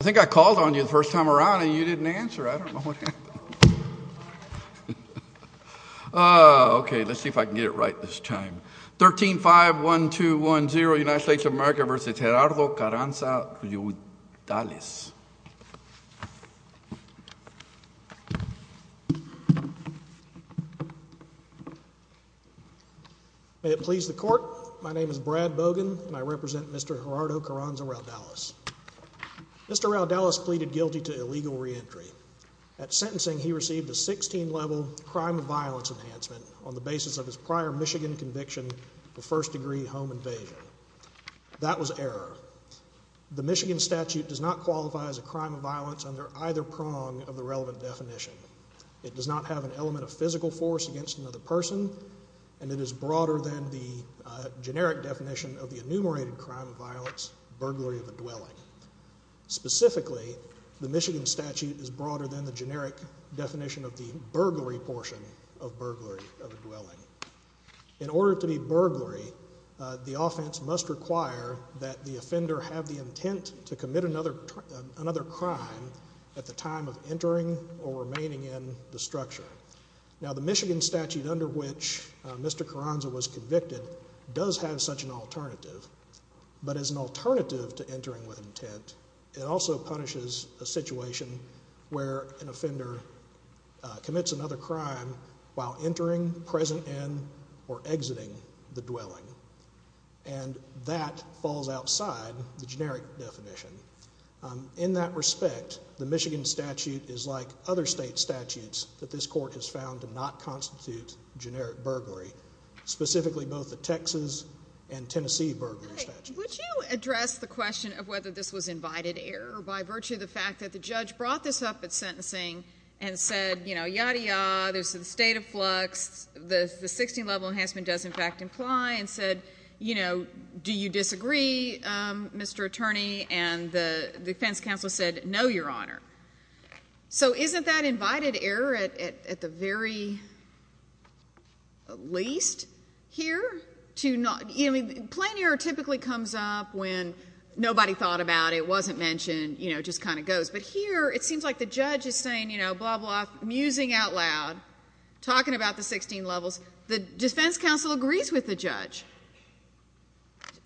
I think I called on you the first time around and you didn't answer. I don't know what happened. Okay, let's see if I can get it right this time. 13-5-1-2-1-0 United States of America v. Gerardo Carranza-Raudales May it please the court, my name is Brad Bogan and I represent Mr. Gerardo Carranza-Raudales. Mr. Raudales pleaded guilty to illegal reentry. At sentencing, he received a 16-level crime of violence enhancement on the basis of his prior Michigan conviction of first-degree home invasion. That was error. The Michigan statute does not qualify as a crime of violence under either prong of the relevant definition. It does not have an element of physical force against another person and it is broader than the generic definition of the enumerated crime of violence, burglary of a dwelling. Specifically, the Michigan statute is broader than the generic definition of the burglary portion of burglary of a dwelling. In order to be burglary, the offense must require that the offender have the intent to commit another crime at the time of entering or remaining in the structure. Now, the Michigan statute under which Mr. Carranza was convicted does have such an alternative. But as an alternative to entering with intent, it also punishes a situation where an offender commits another crime while entering, present in, or exiting the dwelling. And that falls outside the generic definition. In that respect, the Michigan statute is like other state statutes that this court has found to not constitute generic burglary. Specifically, both the Texas and Tennessee burglary statutes. Would you address the question of whether this was invited error by virtue of the fact that the judge brought this up at sentencing and said, you know, yadda yadda, there's a state of flux, the 16-level enhancement does in fact imply, and said, you know, do you disagree, Mr. Attorney? And the defense counsel said, no, Your Honor. So isn't that invited error at the very least here? Plain error typically comes up when nobody thought about it, wasn't mentioned, you know, just kind of goes. But here it seems like the judge is saying, you know, blah, blah, musing out loud, talking about the 16 levels. The defense counsel agrees with the judge.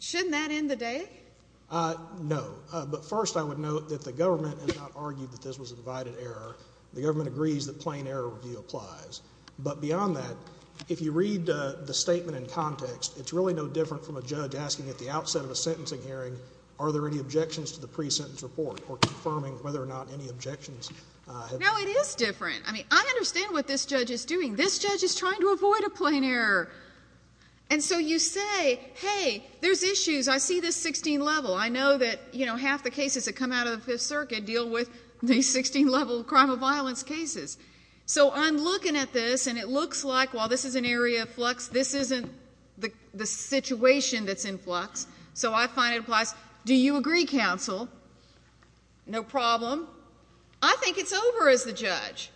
Shouldn't that end the day? No. But first I would note that the government has not argued that this was invited error. The government agrees that plain error review applies. But beyond that, if you read the statement in context, it's really no different from a judge asking at the outset of a sentencing hearing, are there any objections to the pre-sentence report or confirming whether or not any objections have been made. No, it is different. I mean, I understand what this judge is doing. This judge is trying to avoid a plain error. And so you say, hey, there's issues. I see this 16 level. I know that, you know, half the cases that come out of the Fifth Circuit deal with these 16 level crime of violence cases. So I'm looking at this, and it looks like while this is an area of flux, this isn't the situation that's in flux. So I find it applies. Do you agree, counsel? No problem. I think it's over as the judge.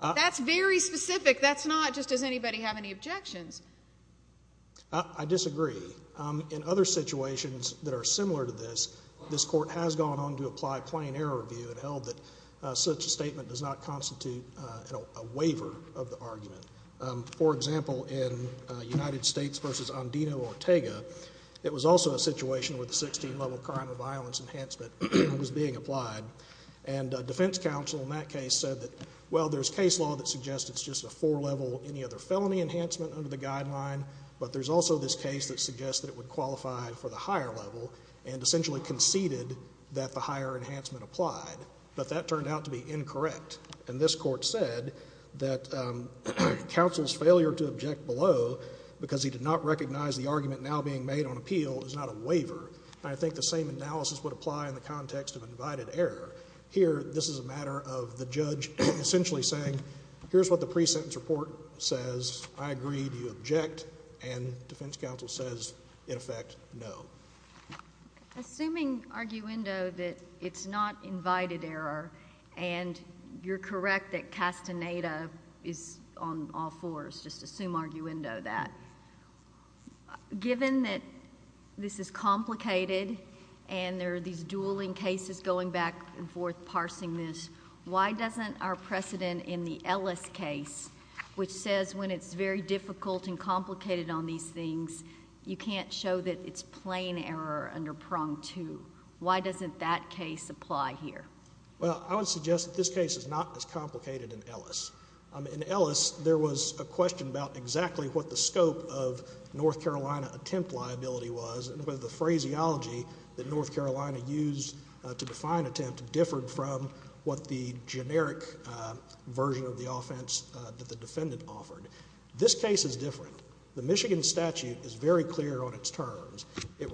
That's very specific. That's not just does anybody have any objections. I disagree. In other situations that are similar to this, this court has gone on to apply plain error review and held that such a statement does not constitute a waiver of the argument. For example, in United States v. Andino Ortega, it was also a situation where the 16 level crime of violence enhancement was being applied. And defense counsel in that case said that, well, there's case law that suggests it's just a four level, any other felony enhancement under the guideline, but there's also this case that suggests that it would qualify for the higher level and essentially conceded that the higher enhancement applied. But that turned out to be incorrect. And this court said that counsel's failure to object below, because he did not recognize the argument now being made on appeal, is not a waiver. I think the same analysis would apply in the context of invited error. Here, this is a matter of the judge essentially saying, here's what the pre-sentence report says. I agree. Do you object? And defense counsel says, in effect, no. Assuming arguendo that it's not invited error, and you're correct that castaneda is on all fours, just assume arguendo that. Given that this is complicated and there are these dueling cases going back and forth parsing this, why doesn't our precedent in the Ellis case, which says when it's very difficult and complicated on these things, you can't show that it's plain error under prong two, why doesn't that case apply here? Well, I would suggest that this case is not as complicated in Ellis. In Ellis, there was a question about exactly what the scope of North Carolina attempt liability was and whether the phraseology that North Carolina used to define attempt differed from what the generic version of the offense that the defendant offered. This case is different. The Michigan statute is very clear on its terms. It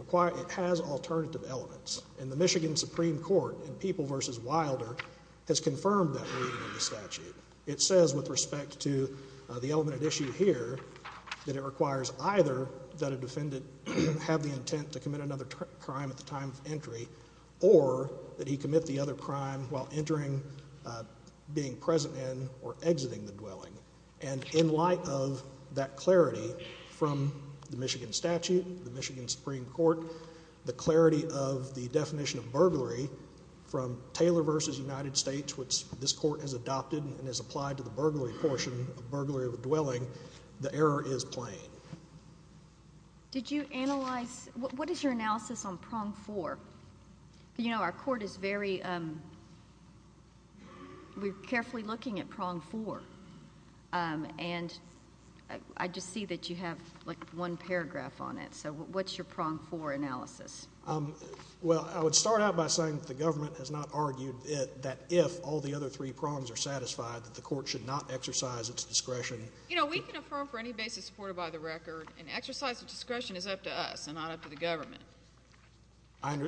has alternative elements, and the Michigan Supreme Court in People v. Wilder has confirmed that reading in the statute. It says with respect to the element at issue here that it requires either that a defendant have the intent to commit another crime at the time of entry or that he commit the other crime while entering, being present in, or exiting the dwelling. And in light of that clarity from the Michigan statute, the Michigan Supreme Court, the clarity of the definition of burglary from Taylor v. United States, which this court has adopted and has applied to the burglary portion of burglary of a dwelling, the error is plain. Did you analyze? What is your analysis on prong four? You know, our court is very carefully looking at prong four, and I just see that you have, like, one paragraph on it. So what's your prong four analysis? Well, I would start out by saying that the government has not argued that if all the other three prongs are satisfied that the court should not exercise its discretion. You know, we can affirm for any basis supported by the record, and exercise of discretion is up to us and not up to the government.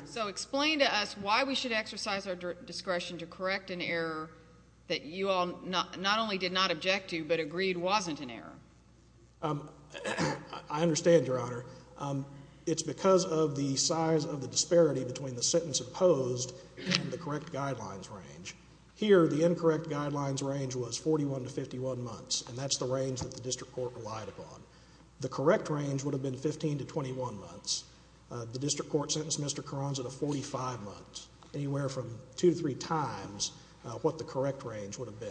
So explain to us why we should exercise our discretion to correct an error that you all not only did not object to but agreed wasn't an error. I understand, Your Honor. It's because of the size of the disparity between the sentence opposed and the correct guidelines range. Here, the incorrect guidelines range was 41 to 51 months, and that's the range that the district court relied upon. The correct range would have been 15 to 21 months. The district court sentenced Mr. Carranza to 45 months, anywhere from two to three times what the correct range would have been.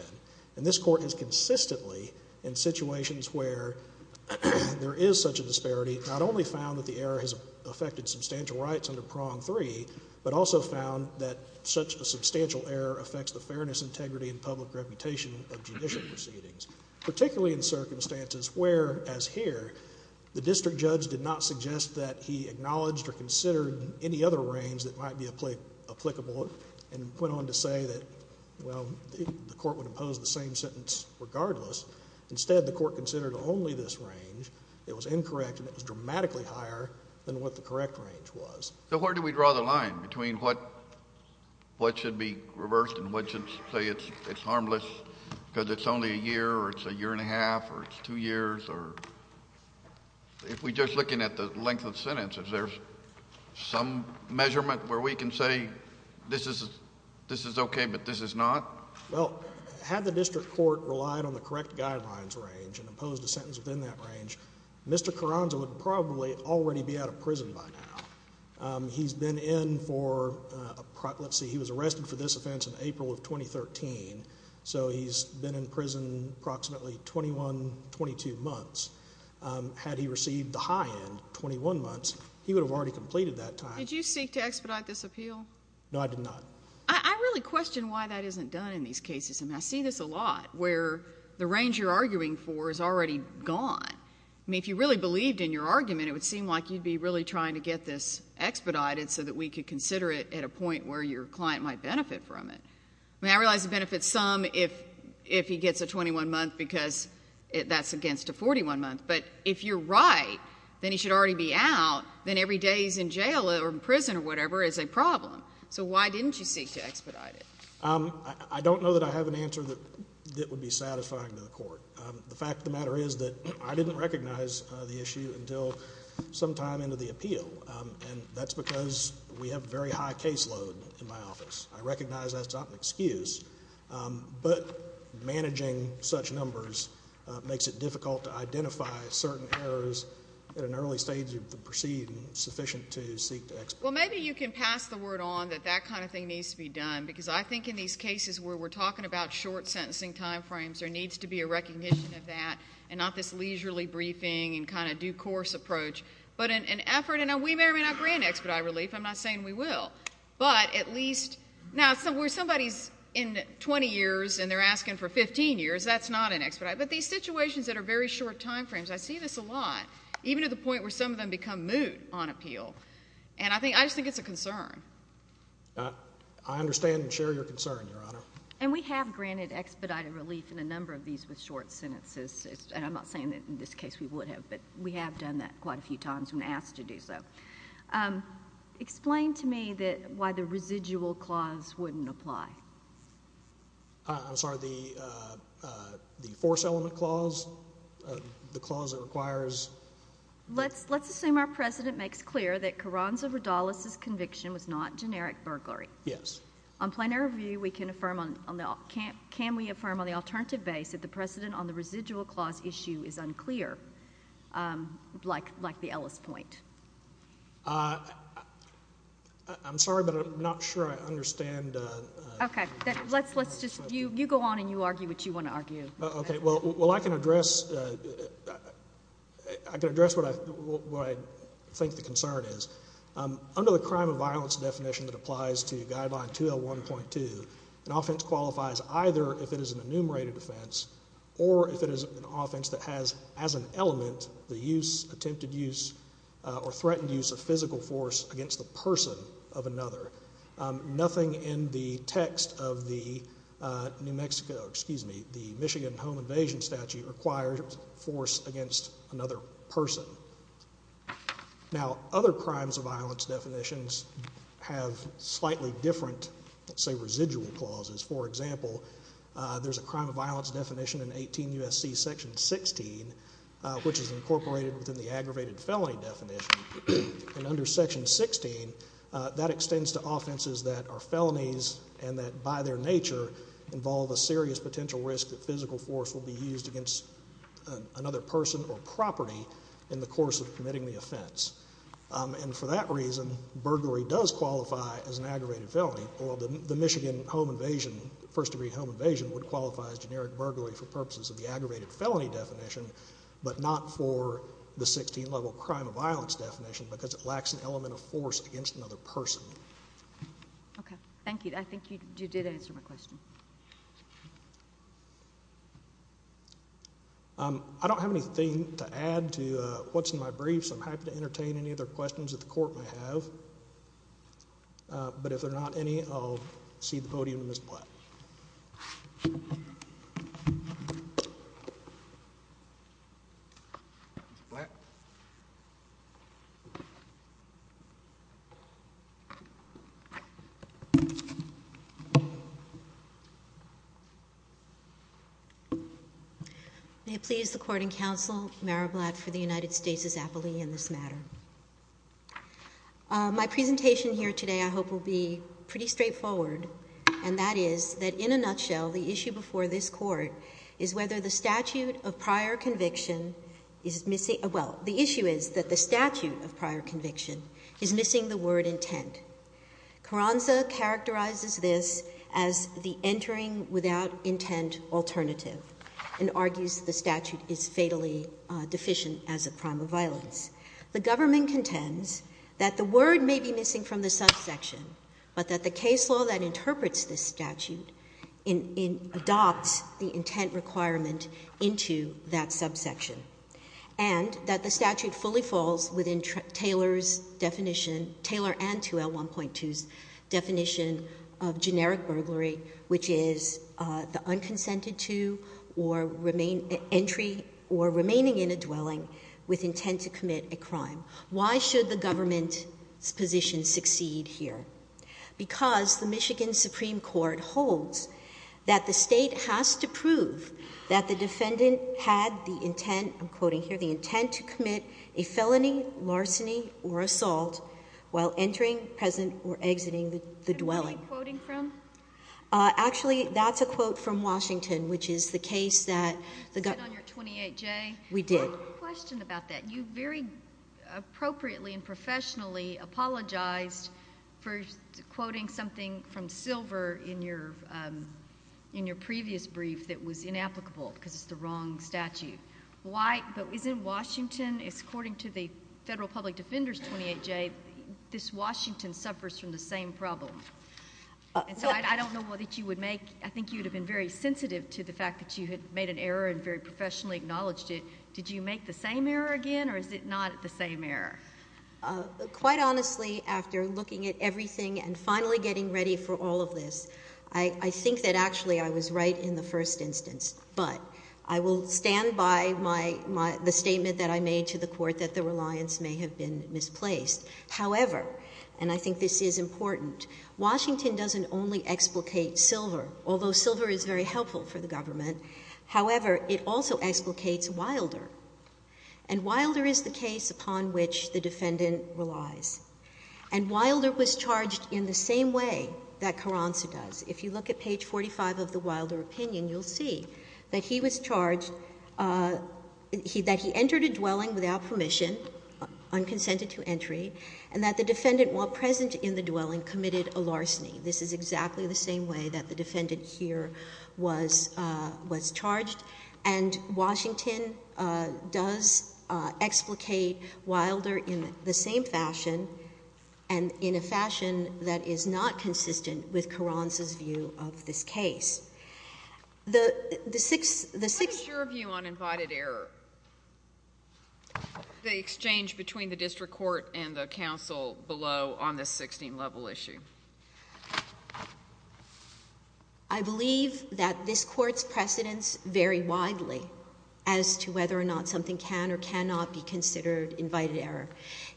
And this court has consistently, in situations where there is such a disparity, not only found that the error has affected substantial rights under prong three, but also found that such a substantial error affects the fairness, integrity, and public reputation of judicial proceedings, particularly in circumstances where, as here, the district judge did not suggest that he acknowledged or considered any other range that might be applicable and went on to say that, well, the court would impose the same sentence regardless. Instead, the court considered only this range. It was incorrect and it was dramatically higher than what the correct range was. So where do we draw the line between what should be reversed and what should say it's harmless because it's only a year or it's a year and a half or it's two years? If we're just looking at the length of the sentence, is there some measurement where we can say this is okay but this is not? Well, had the district court relied on the correct guidelines range and imposed a sentence within that range, Mr. Carranza would probably already be out of prison by now. He's been in for, let's see, he was arrested for this offense in April of 2013, so he's been in prison approximately 21, 22 months. Had he received the high end, 21 months, he would have already completed that time. Did you seek to expedite this appeal? No, I did not. I really question why that isn't done in these cases. I mean, I see this a lot where the range you're arguing for is already gone. I mean, if you really believed in your argument, it would seem like you'd be really trying to get this expedited so that we could consider it at a point where your client might benefit from it. I mean, I realize it benefits some if he gets a 21-month because that's against a 41-month, but if you're right, then he should already be out, then every day he's in jail or prison or whatever is a problem. So why didn't you seek to expedite it? I don't know that I have an answer that would be satisfying to the court. The fact of the matter is that I didn't recognize the issue until sometime into the appeal, and that's because we have a very high caseload in my office. I recognize that's not an excuse, but managing such numbers makes it difficult to identify certain errors at an early stage of the proceeding sufficient to seek to expedite. Well, maybe you can pass the word on that that kind of thing needs to be done because I think in these cases where we're talking about short sentencing time frames, there needs to be a recognition of that and not this leisurely briefing and kind of due course approach, but an effort, and we may or may not grant expedite relief. I'm not saying we will. But at least now where somebody's in 20 years and they're asking for 15 years, that's not an expedite. But these situations that are very short time frames, I see this a lot, even to the point where some of them become moot on appeal, and I just think it's a concern. I understand and share your concern, Your Honor. And we have granted expedited relief in a number of these with short sentences, and I'm not saying that in this case we would have, but we have done that quite a few times when asked to do so. Explain to me why the residual clause wouldn't apply. I'm sorry, the force element clause, the clause that requires? Let's assume our president makes clear that Carranza-Ridales' conviction was not generic burglary. Yes. On plenary review, can we affirm on the alternative base that the precedent on the residual clause issue is unclear, like the Ellis point? I'm sorry, but I'm not sure I understand. Okay. You go on and you argue what you want to argue. Okay. Well, I can address what I think the concern is. Under the crime of violence definition that applies to Guideline 201.2, an offense qualifies either if it is an enumerated offense or if it is an offense that has as an element the use, attempted use, or threatened use of physical force against the person of another. Nothing in the text of the Michigan home invasion statute requires force against another person. Now, other crimes of violence definitions have slightly different, say, residual clauses. For example, there's a crime of violence definition in 18 U.S.C. Section 16, which is incorporated within the aggravated felony definition. And under Section 16, that extends to offenses that are felonies and that by their nature involve a serious potential risk that physical force will be used against another person or property in the course of committing the offense. And for that reason, burglary does qualify as an aggravated felony, although the Michigan home invasion, first-degree home invasion, would qualify as generic burglary for purposes of the aggravated felony definition, but not for the 16-level crime of violence definition because it lacks an element of force against another person. Okay. Thank you. I think you did answer my question. I don't have anything to add to what's in my brief, so I'm happy to entertain any other questions that the court may have. But if there are not any, I'll cede the podium to Ms. Blatt. May it please the court and counsel, Mara Blatt for the United States' appellee in this matter. My presentation here today I hope will be pretty straightforward, and that is that in a nutshell, the issue before this court is whether the statute of prior conviction is missing Well, the issue is that the statute of prior conviction is missing the word intent. Carranza characterizes this as the entering without intent alternative and argues the statute is fatally deficient as a crime of violence. The government contends that the word may be missing from the subsection, but that the case law that interprets this statute adopts the intent requirement into that subsection and that the statute fully falls within Taylor and 2L1.2's definition of generic burglary, which is the unconsented to or remaining in a dwelling with intent to commit a crime. Why should the government's position succeed here? Because the Michigan Supreme Court holds that the state has to prove that the defendant had the intent I'm quoting here, the intent to commit a felony, larceny, or assault while entering, present, or exiting the dwelling. Actually, that's a quote from Washington, which is the case that the government You said on your 28J? We did. I have a question about that. You very appropriately and professionally apologized for quoting something from Silver in your previous brief that was inapplicable because it's the wrong statute. But isn't Washington, according to the Federal Public Defender's 28J, this Washington suffers from the same problem? I think you would have been very sensitive to the fact that you had made an error and very professionally acknowledged it. Did you make the same error again, or is it not the same error? Quite honestly, after looking at everything and finally getting ready for all of this, I think that actually I was right in the first instance. But I will stand by the statement that I made to the Court that the reliance may have been misplaced. However, and I think this is important, Washington doesn't only explicate Silver, although Silver is very helpful for the government, however, it also explicates Wilder. And Wilder is the case upon which the defendant relies. And Wilder was charged in the same way that Carranza does. If you look at page 45 of the Wilder opinion, you'll see that he was charged that he entered a dwelling without permission, unconsented to entry, and that the defendant while present in the dwelling committed a larceny. This is exactly the same way that the defendant here was charged. And Washington does explicate Wilder in the same fashion, and in a fashion that is not consistent with Carranza's view of this case. What is your view on invited error? The exchange between the district court and the counsel below on this 16-level issue. I believe that this Court's precedents vary widely as to whether or not something can or cannot be considered invited error.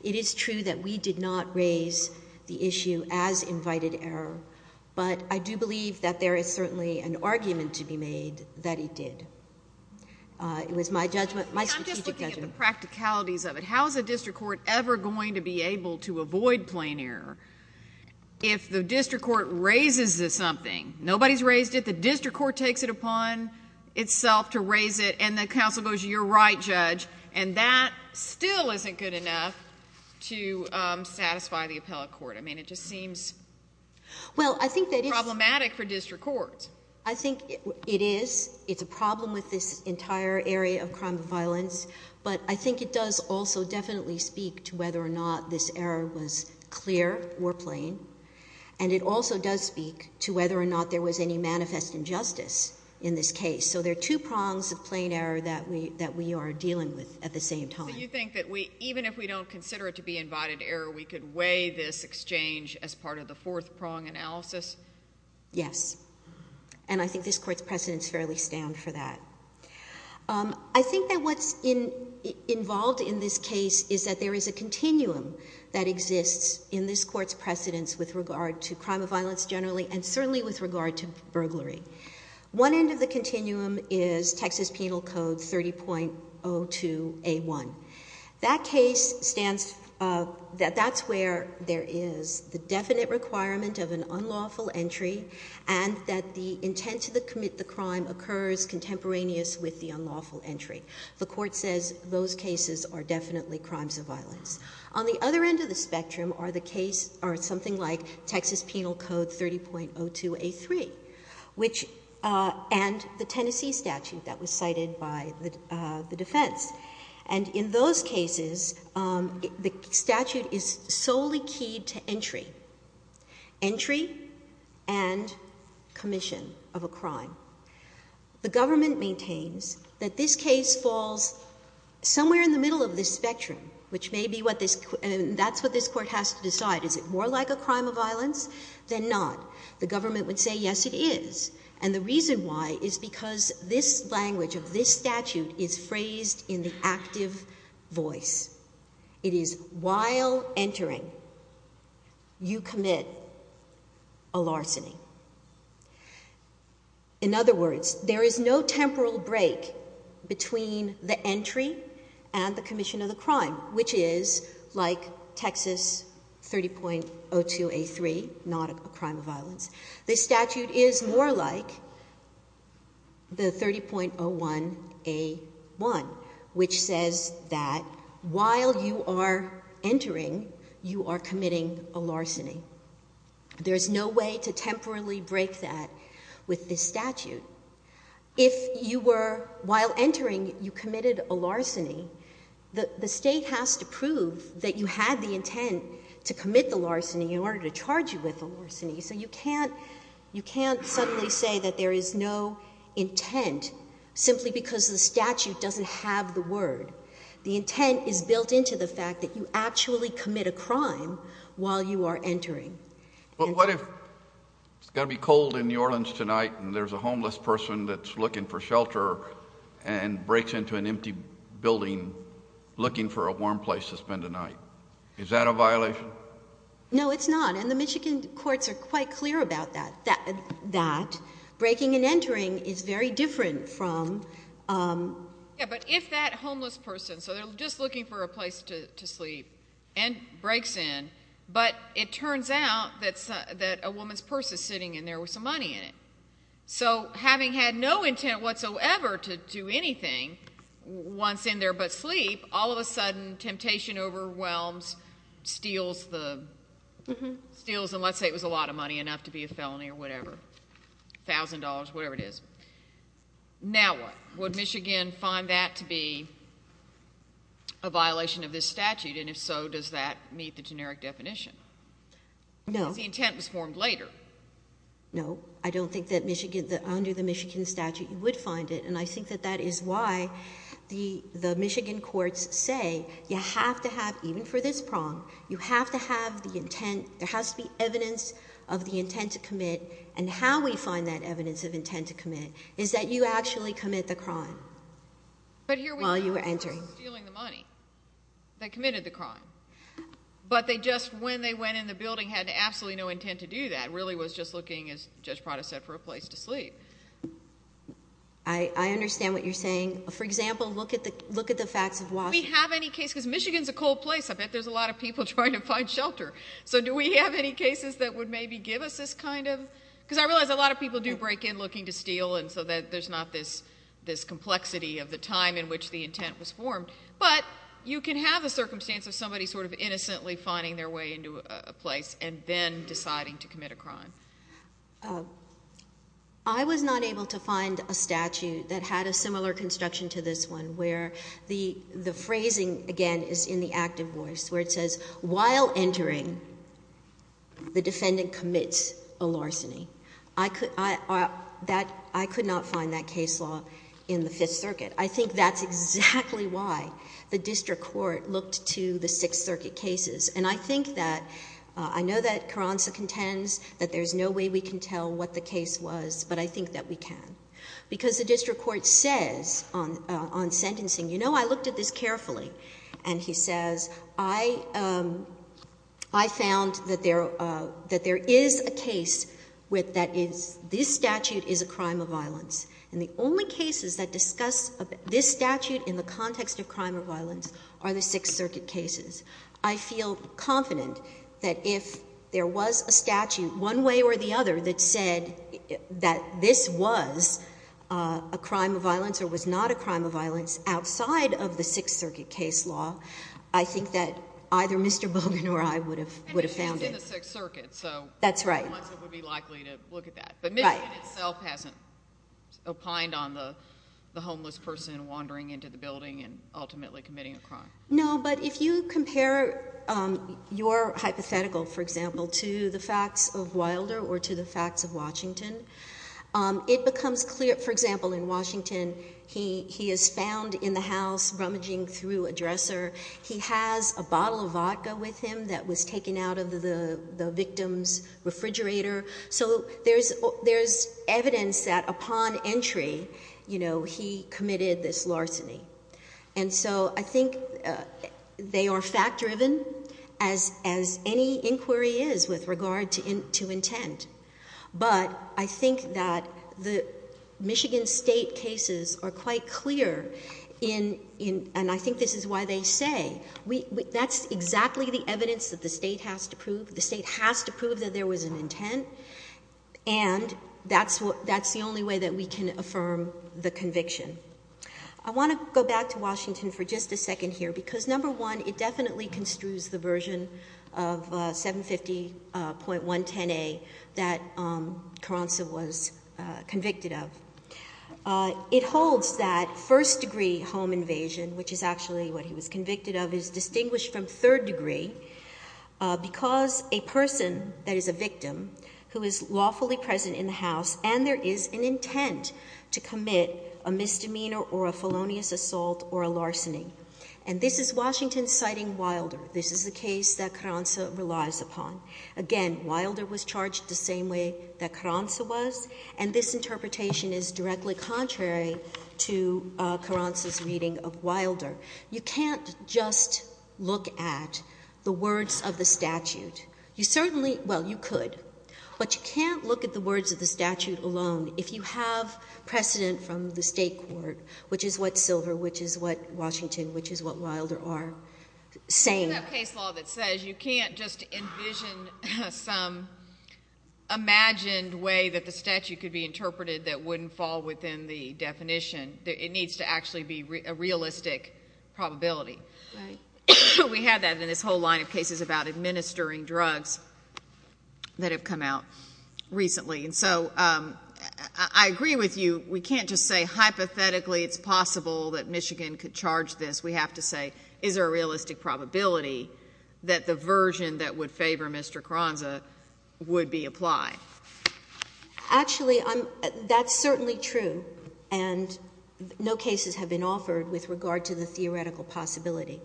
It is true that we did not raise the issue as invited error, but I do believe that there is certainly an argument to be made that he did. It was my strategic judgment. I'm just looking at the practicalities of it. How is a district court ever going to be able to avoid plain error if the district court raises something? Nobody's raised it. The district court takes it upon itself to raise it, and the counsel goes, you're right, Judge, and that still isn't good enough to satisfy the appellate court. I mean, it just seems problematic for district courts. I think it is. It's a problem with this entire area of crime and violence, but I think it does also definitely speak to whether or not this error was clear or plain, and it also does speak to whether or not there was any manifest injustice in this case. So if we don't consider it to be invited error, we could weigh this exchange as part of the fourth-prong analysis? Yes, and I think this Court's precedents fairly stand for that. I think that what's involved in this case is that there is a continuum that exists in this Court's precedents with regard to crime of violence generally and certainly with regard to burglary. One end of the continuum is Texas Penal Code 30.02A1. That case stands, that's where there is the definite requirement of an unlawful entry and that the intent to commit the crime occurs contemporaneous with the unlawful entry. The Court says those cases are definitely crimes of violence. On the other end of the continuum is the Tennessee statute that was cited by the defense. And in those cases, the statute is solely keyed to entry. Entry and commission of a crime. The government maintains that this case falls somewhere in the middle of this spectrum, which may be what this, that's what this Court has to decide. Is it more like a crime of violence than not? The government would say, yes, it is. And the reason why is because this language of this statute is phrased in the active voice. It is, while entering, you commit a larceny. In other words, there is no temporal break between the entry and the commission of the crime, which is like Texas 30.02A3, not a crime of violence. This statute is more like the 30.01A1, which says that while you are entering, you are committing a larceny. There is no way to temporally break that with this statute. If you were, while entering, you committed a larceny, the State has to prove that you had the intent to commit the larceny in order to charge you with a larceny. So you can't suddenly say that there is no intent simply because the statute doesn't have the word. The intent is built into the fact that you actually commit a crime while you are entering. But what if it's going to be cold in New Orleans tonight and there's a homeless person that's looking for shelter and breaks into an empty building looking for a warm place to spend the night? Is that a violation? No, it's not. And the Michigan courts are quite clear about that. Breaking and entering is very different from... Yeah, but if that homeless person, so they're just looking for a place to sleep and breaks in, but it turns out that a woman's purse is sitting in there with some money in it. So having had no intent whatsoever to do anything once in there but sleep, all of a sudden temptation overwhelms, steals and let's say it was a lot of money enough to be a felony or whatever, a thousand dollars, whatever it is. Now what? Would Michigan find that to be a violation of this statute? And if so, does that meet the generic definition? No. Because the intent was formed later. No, I don't think that under the Michigan statute you would find it. And I think that that is why the Michigan courts say you have to have, even for this prong, you have to have the intent, there has to be evidence of the intent to commit and how we find that evidence of intent to commit is that you actually commit the crime while you were entering. But here we have a person stealing the money that committed the crime. But they just, when they went in the building, had absolutely no intent to do that. Really was just looking, as Judge Prada said, for a place to sleep. I understand what you're saying. For example, look at the facts of Washington. Do we have any case, because Michigan's a cold place. I bet there's a lot of people trying to find shelter. So do we have any cases that would maybe give us this kind of because I realize a lot of people do break in looking to steal and so there's not this complexity of the time in which the intent was formed. But you can have a circumstance of somebody sort of innocently finding their way into a place and then deciding to commit a crime. I was not able to find a statute that had a similar construction to this one where the phrasing, again, is in the active voice, where it says, while entering, the defendant commits a larceny. I could not find that case law in the Fifth Circuit. I think that's exactly why the district court looked to the Sixth Circuit cases. And I think that I know that Carranza contends that there's no way we can tell what the case was, but I think that we can. Because the district court says on sentencing, you know, I looked at this carefully. And he says, I found that there is a case that this statute is a crime of violence. And the only cases that discuss this statute in the context of crime of violence are the Sixth Circuit cases. I feel confident that if there was a statute one way or the other that said that this was a crime of violence or was not a crime of violence outside of the Sixth Circuit case law, I think that either Mr. Bogan or I would have found it. And it's used in the Sixth Circuit. That's right. Unless it would be likely to look at that. But Michigan itself hasn't opined on the homeless person wandering into the building and ultimately committing a crime. No, but if you compare your hypothetical, for example, to the facts of Wilder or to the facts of Washington, it becomes clear. For example, in Washington, he is found in the house rummaging through a dresser. He has a bottle of vodka with him that was taken out of the victim's refrigerator. So there's evidence that upon entry, he committed this larceny. And so I think they are fact driven as any inquiry is with regard to intent. But I think that the Michigan State cases are quite clear and I think this is why they say, that's exactly the evidence that the State has to prove. that there was an intent and that's the only way that we can affirm the conviction. I want to go back to Washington for just a second here, because number one, it definitely construes the version of 750.110A that Carranza was convicted of. It holds that first degree home invasion, which is actually what he was convicted of, is distinguished from third degree, because a person that is a victim who is lawfully present in the house and there is an intent to commit a misdemeanor or a felonious assault or a larceny. And this is Washington citing Wilder. This is the case that Carranza relies upon. Again, Wilder was charged the same way that Carranza was. And this interpretation is directly contrary to Carranza's reading of Wilder. You can't just look at the words of the statute. You certainly, well, you could. But you can't look at the words of the statute alone if you have precedent from the State court, which is what Silver, which is what Washington, which is what Wilder are saying. We have a case law that says you can't just envision some imagined way that the statute could be interpreted that wouldn't fall within the definition. It needs to actually be a realistic probability. We have that in this whole line of cases about administering drugs that have come out recently. And so I agree with you. We can't just say hypothetically it's possible that Michigan could charge this. We have to say is there a realistic probability that the version that would favor Mr. Carranza would be applied? Actually, that's certainly true. And no cases have been offered with regard to the theoretical possibility.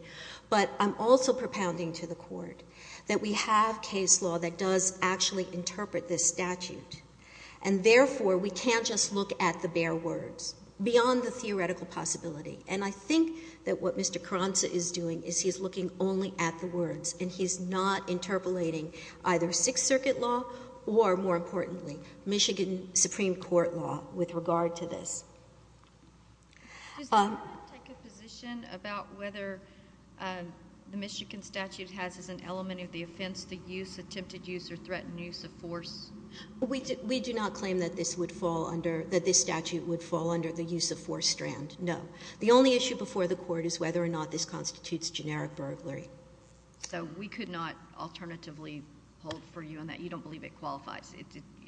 But I'm also propounding to the court that we have case law that does actually interpret this statute. And therefore, we can't just look at the bare words beyond the theoretical possibility. And I think that what Mr. Carranza is doing is he's looking only at the words. And he's not interpolating either Sixth Circuit law or, more importantly, Michigan Supreme Court law with regard to this. Does the court take a position about whether the Michigan statute has as an element of the offense the use, attempted use, or threatened use of force? We do not claim that this statute would fall under the use of force strand, no. The only issue before the court is whether or not this constitutes generic burglary. So we could not alternatively hold for you on that? You don't believe it qualifies?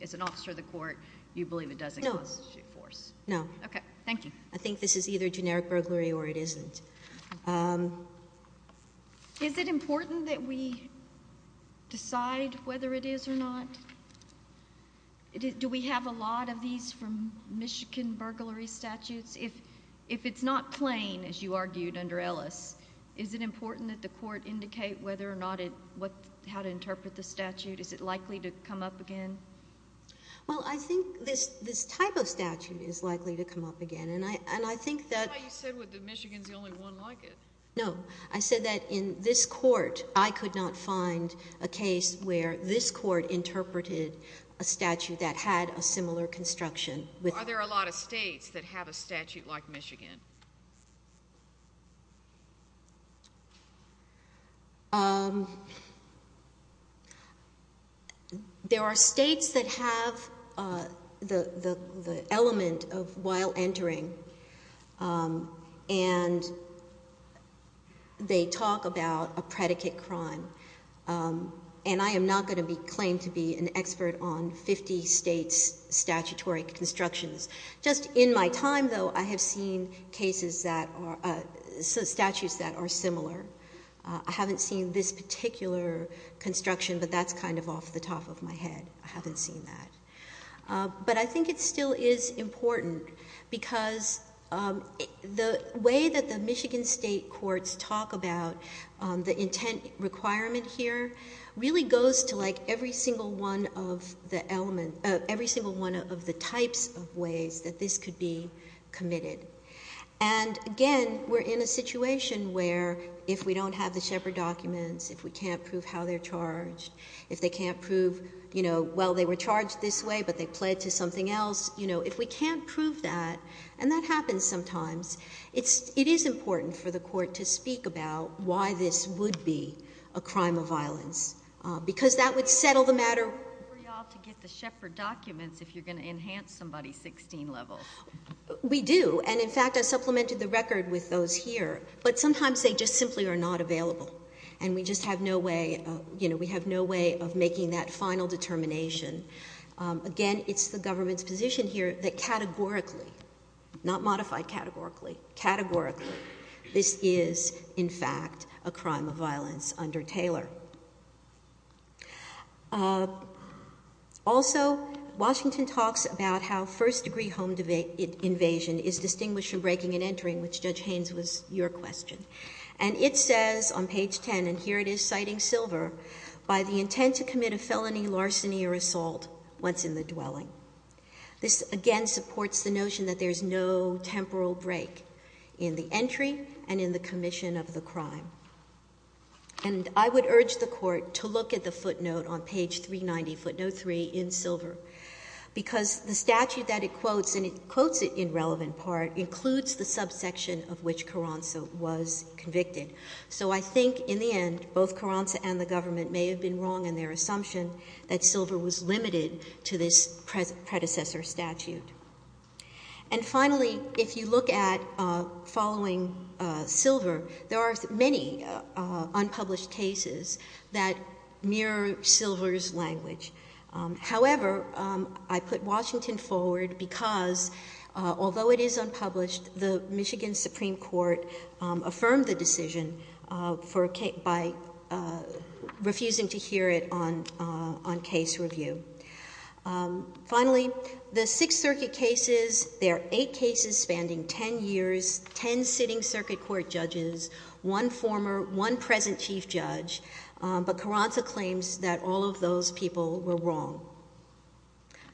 As an officer of the court, you believe it doesn't constitute force? No. Okay. Thank you. I think this is either generic burglary or it isn't. Is it important that we decide whether it is or not? Do we have a lot of these from Michigan does the court indicate how to interpret the statute? Is it likely to come up again? Well, I think this type of statute is likely to come up again. That's why you said Michigan is the only one like it. No. I said that in this court I could not find a case where this court interpreted a statute that had a similar construction. Are there a lot of states that have a statute like Michigan? There are states that have the element of while entering and they talk about a predicate crime. And I am not going to claim to be an expert on 50 states' statutory constructions. Just in my time, though, I have seen statutes that are similar. I haven't seen this particular construction, but that's kind of off the top of my head. I haven't seen that. But I think it still is important because the way that the Michigan state courts talk about the intent requirement here really goes to every single one of the types of ways that this could be committed. And again, we are in a situation where if we don't have the Shepard documents, if we can't prove how they are charged, if they can't prove well, they were charged this way, but they pled to something else, if we can't prove that, and that happens sometimes, it is important for the court to speak about why this would be a crime of violence. Because that would settle the matter. We do. And in fact, I supplemented the record with those here. But sometimes they just simply are not available. And we just have no way, you know, we have no way of making that final determination. Again, it's the government's position here that categorically, not modified categorically, categorically, this is in fact a crime of violence under Taylor. Also, Washington talks about how first degree home invasion is distinguished from breaking and entering, which Judge Haynes was your question. And it says on page 10, and here it is citing Silver, by the intent to commit a felony larceny or assault once in the dwelling. This again supports the notion that there is no temporal break in the entry and in the commission of the crime. And I would urge the court to look at the footnote on page 390, footnote 3, in Silver. Because the statute that it quotes, and it quotes it in relevant part, includes the subsection of which Carranza was convicted. So I think in the end, both Carranza and the government may have been wrong in their assumption that Silver was limited to this predecessor statute. And finally, if you look at following Silver, there are many unpublished cases that mirror Silver's language. However, I put Washington forward because although it is unpublished, the Michigan Supreme Court affirmed the decision by refusing to hear it on case review. Finally, the Sixth Circuit cases, there are eight cases spanning ten years, ten sitting circuit court judges, one former, one present chief judge, but Carranza claims that all of those people were wrong.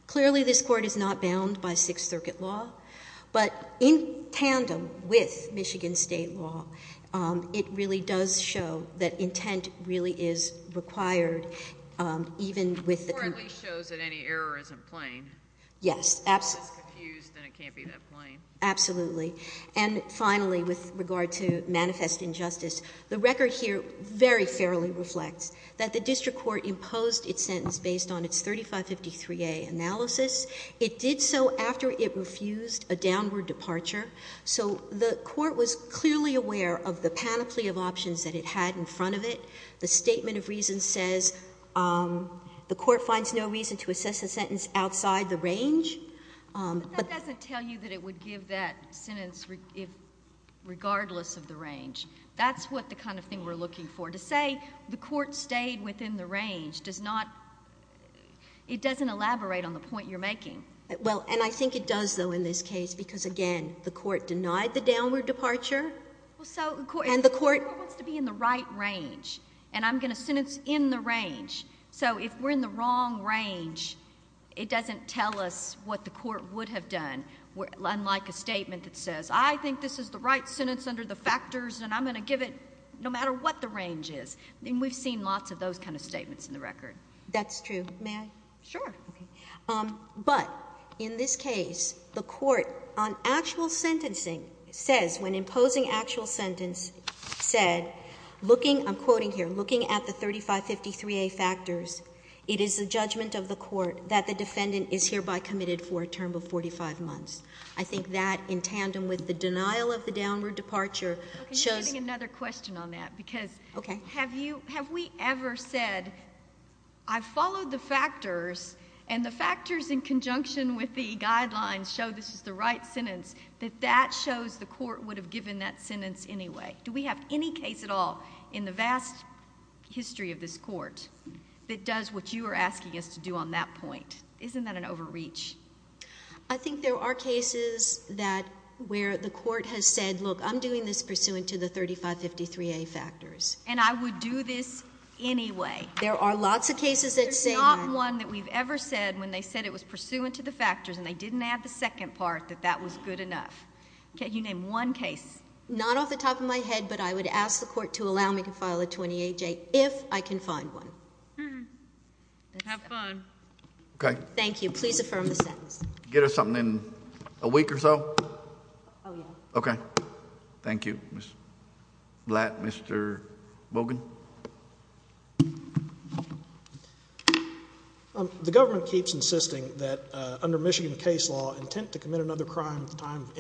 Clearly this court is not bound by Sixth Circuit law, but in tandem with Michigan State law, it really does show that intent really is required, even with the... The court at least shows that any error isn't plain. Yes. If it's confused, then it can't be that plain. Absolutely. And finally, with regard to manifest injustice, the record here very fairly reflects that the district court imposed its sentence based on its 3553A analysis. It did so after it refused a downward departure. So the court was clearly aware of the panoply of options that it had in front of it. The statement of reason says the court finds no reason to assess a sentence outside the range. But that doesn't tell you that it would give that sentence regardless of the range. That's what the kind of thing we're looking for. To say the court stayed within the range does not it doesn't elaborate on the point you're making. Well, and I think it does, though, in this case, because again, the court denied the downward departure. So the court wants to be in the right range, and I'm going to sentence in the range. So if we're in the wrong range, it doesn't tell us what the court would have done, unlike a statement that says, I think this is the right sentence under the factors, and I'm going to give it no matter what the range is. And we've seen lots of those kind of statements in the record. That's true. May I? Sure. But in this case, the court on actual sentencing says when imposing actual sentence said, looking, I'm quoting here, looking at the 3553A factors, it is the judgment of the court that the defendant is hereby committed for a term of 45 months. I think that in tandem with the denial of the downward departure shows I'm getting another question on that, because have we ever said, I've followed the factors, and the factors in conjunction with the guidelines show this is the right sentence, that that shows the court would have given that sentence anyway? Do we have any case at all in the vast history of this court that does what you are asking us to do on that point? Isn't that an overreach? I think there are cases that where the court has said, look, I'm doing this pursuant to the 3553A factors. And I would do this anyway. There are lots of cases that say that. There's not one that we've ever said when they said it was pursuant to the factors and they didn't add the second part that that was good enough. You name one case. Not off the top of my head, but I would ask the court to allow me to file a 28J if I can find one. Have fun. Okay. Thank you. Please affirm the sentence. Get us something in a week or so? Oh, yeah. Okay. Thank you, Ms. Blatt. Mr. Bogan? The government keeps insisting that under Michigan case law, intent to commit another crime at the time of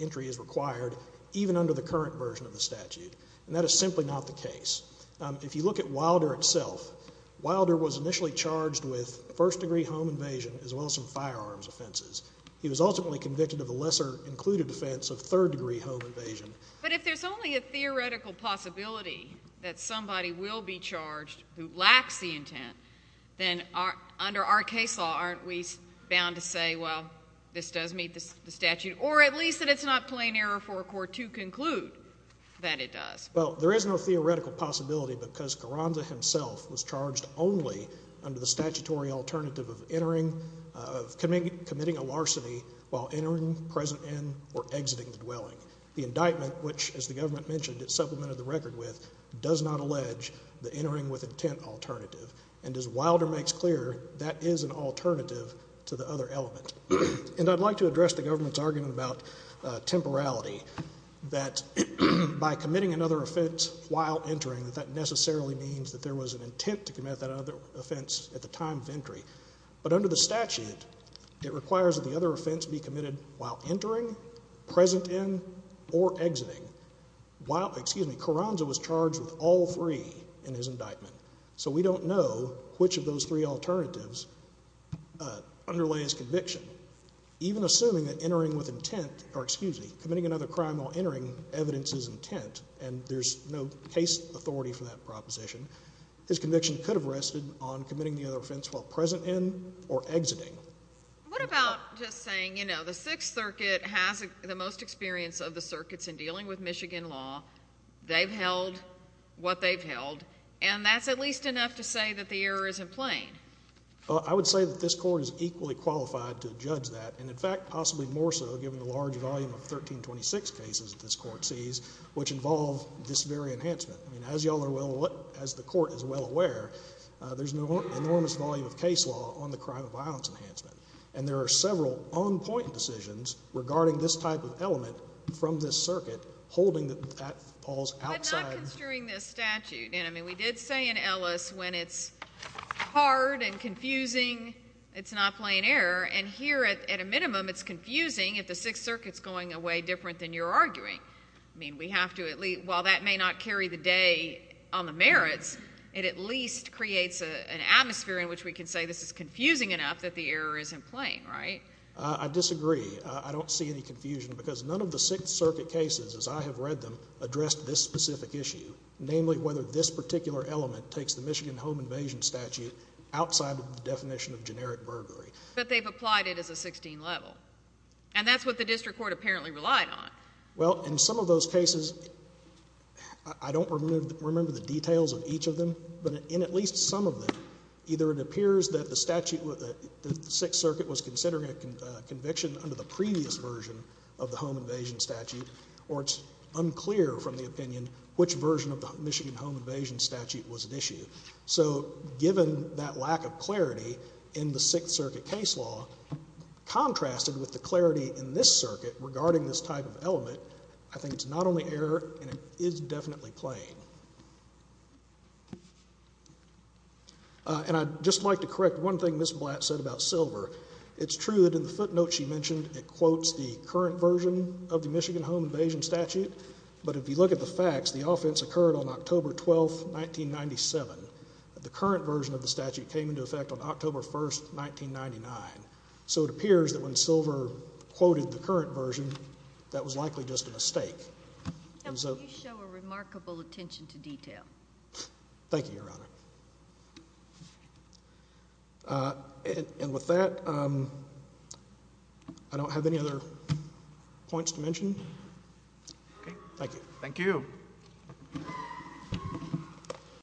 entry is required, even under the current version of the statute. And that is simply not the case. If you look at Wilder itself, Wilder was initially charged with first-degree home invasion as well as some firearms offenses. He was ultimately convicted of a lesser-included offense of third-degree home invasion. But if there's only a theoretical possibility that somebody will be charged who lacks the intent, then under our case law aren't we bound to say, well, this does meet the statute, or at least that it's not plain error for a court to conclude that it does? Well, there is no theoretical possibility because Carranza himself was charged only under the statutory alternative of committing a larceny while entering, present in, or exiting the dwelling. The indictment, which, as the government mentioned, it supplemented the record with, does not allege the entering with intent alternative. And as Wilder makes clear, that is an alternative to the other element. And I'd like to address the government's argument about temporality, that by committing another offense while entering, that that necessarily means that there was an intent to commit that other offense at the time of entry. But under the statute, it requires that the other offense be committed while entering, present in, or exiting. While, excuse me, Carranza was charged with all three in his indictment. So we don't know which of those three alternatives underlay his conviction. Even assuming that entering with intent, or excuse me, committing another crime while entering evidences intent, and there's no case authority for that proposition, his conviction could have rested on committing the other offense while present in or exiting. What about just saying, you know, the Sixth Circuit has the most experience of the circuits in dealing with Michigan law. They've held what they've held, and that's at least enough to say that the error isn't plain. Well, I would say that this Court is equally qualified to judge that, and in fact possibly more so given the large volume of 1326 cases that this Court sees, which involve this very enhancement. I mean, as you all are well aware, as the Court is well aware, there's an enormous volume of case law on the crime of violence enhancement. And there are several on-point decisions regarding this type of element from this circuit holding that that falls outside. I'm not construing this statute. And, I mean, we did say in Ellis when it's hard and confusing, it's not plain error. And here, at a minimum, it's confusing if the Sixth Circuit's going away different than you're arguing. I mean, we have to at least, while that may not carry the day on the merits, it at least creates an atmosphere in which we can say this is confusing enough that the error isn't plain, right? I disagree. I don't see any confusion because none of the Sixth Circuit cases, as I have read them, addressed this specific issue, namely whether this particular element takes the Michigan home invasion statute outside of the definition of generic burglary. But they've applied it as a 16-level. And that's what the district court apparently relied on. Well, in some of those cases, I don't remember the details of each of them, but in at least some of them, either it appears that the Sixth Circuit was considering a conviction under the previous version of the home invasion statute, or it's unclear from the opinion which version of the Michigan home invasion statute was at issue. So given that lack of clarity in the Sixth Circuit case law, contrasted with the clarity in this circuit regarding this type of element, I think it's not only error and it is definitely plain. And I'd just like to correct one thing Ms. Blatt said about silver. It's true that in the footnote she mentioned it quotes the current version of the Michigan home invasion statute, but if you look at the facts, the offense occurred on October 12th, 1997. The current version of the statute came into effect on October 1st, 1999. So it appears that when silver quoted the current version, that was likely just a mistake. Can you show a remarkable attention to detail? Thank you, Your Honor. And with that, I don't have any other points to mention. Okay. Thank you. Thank you.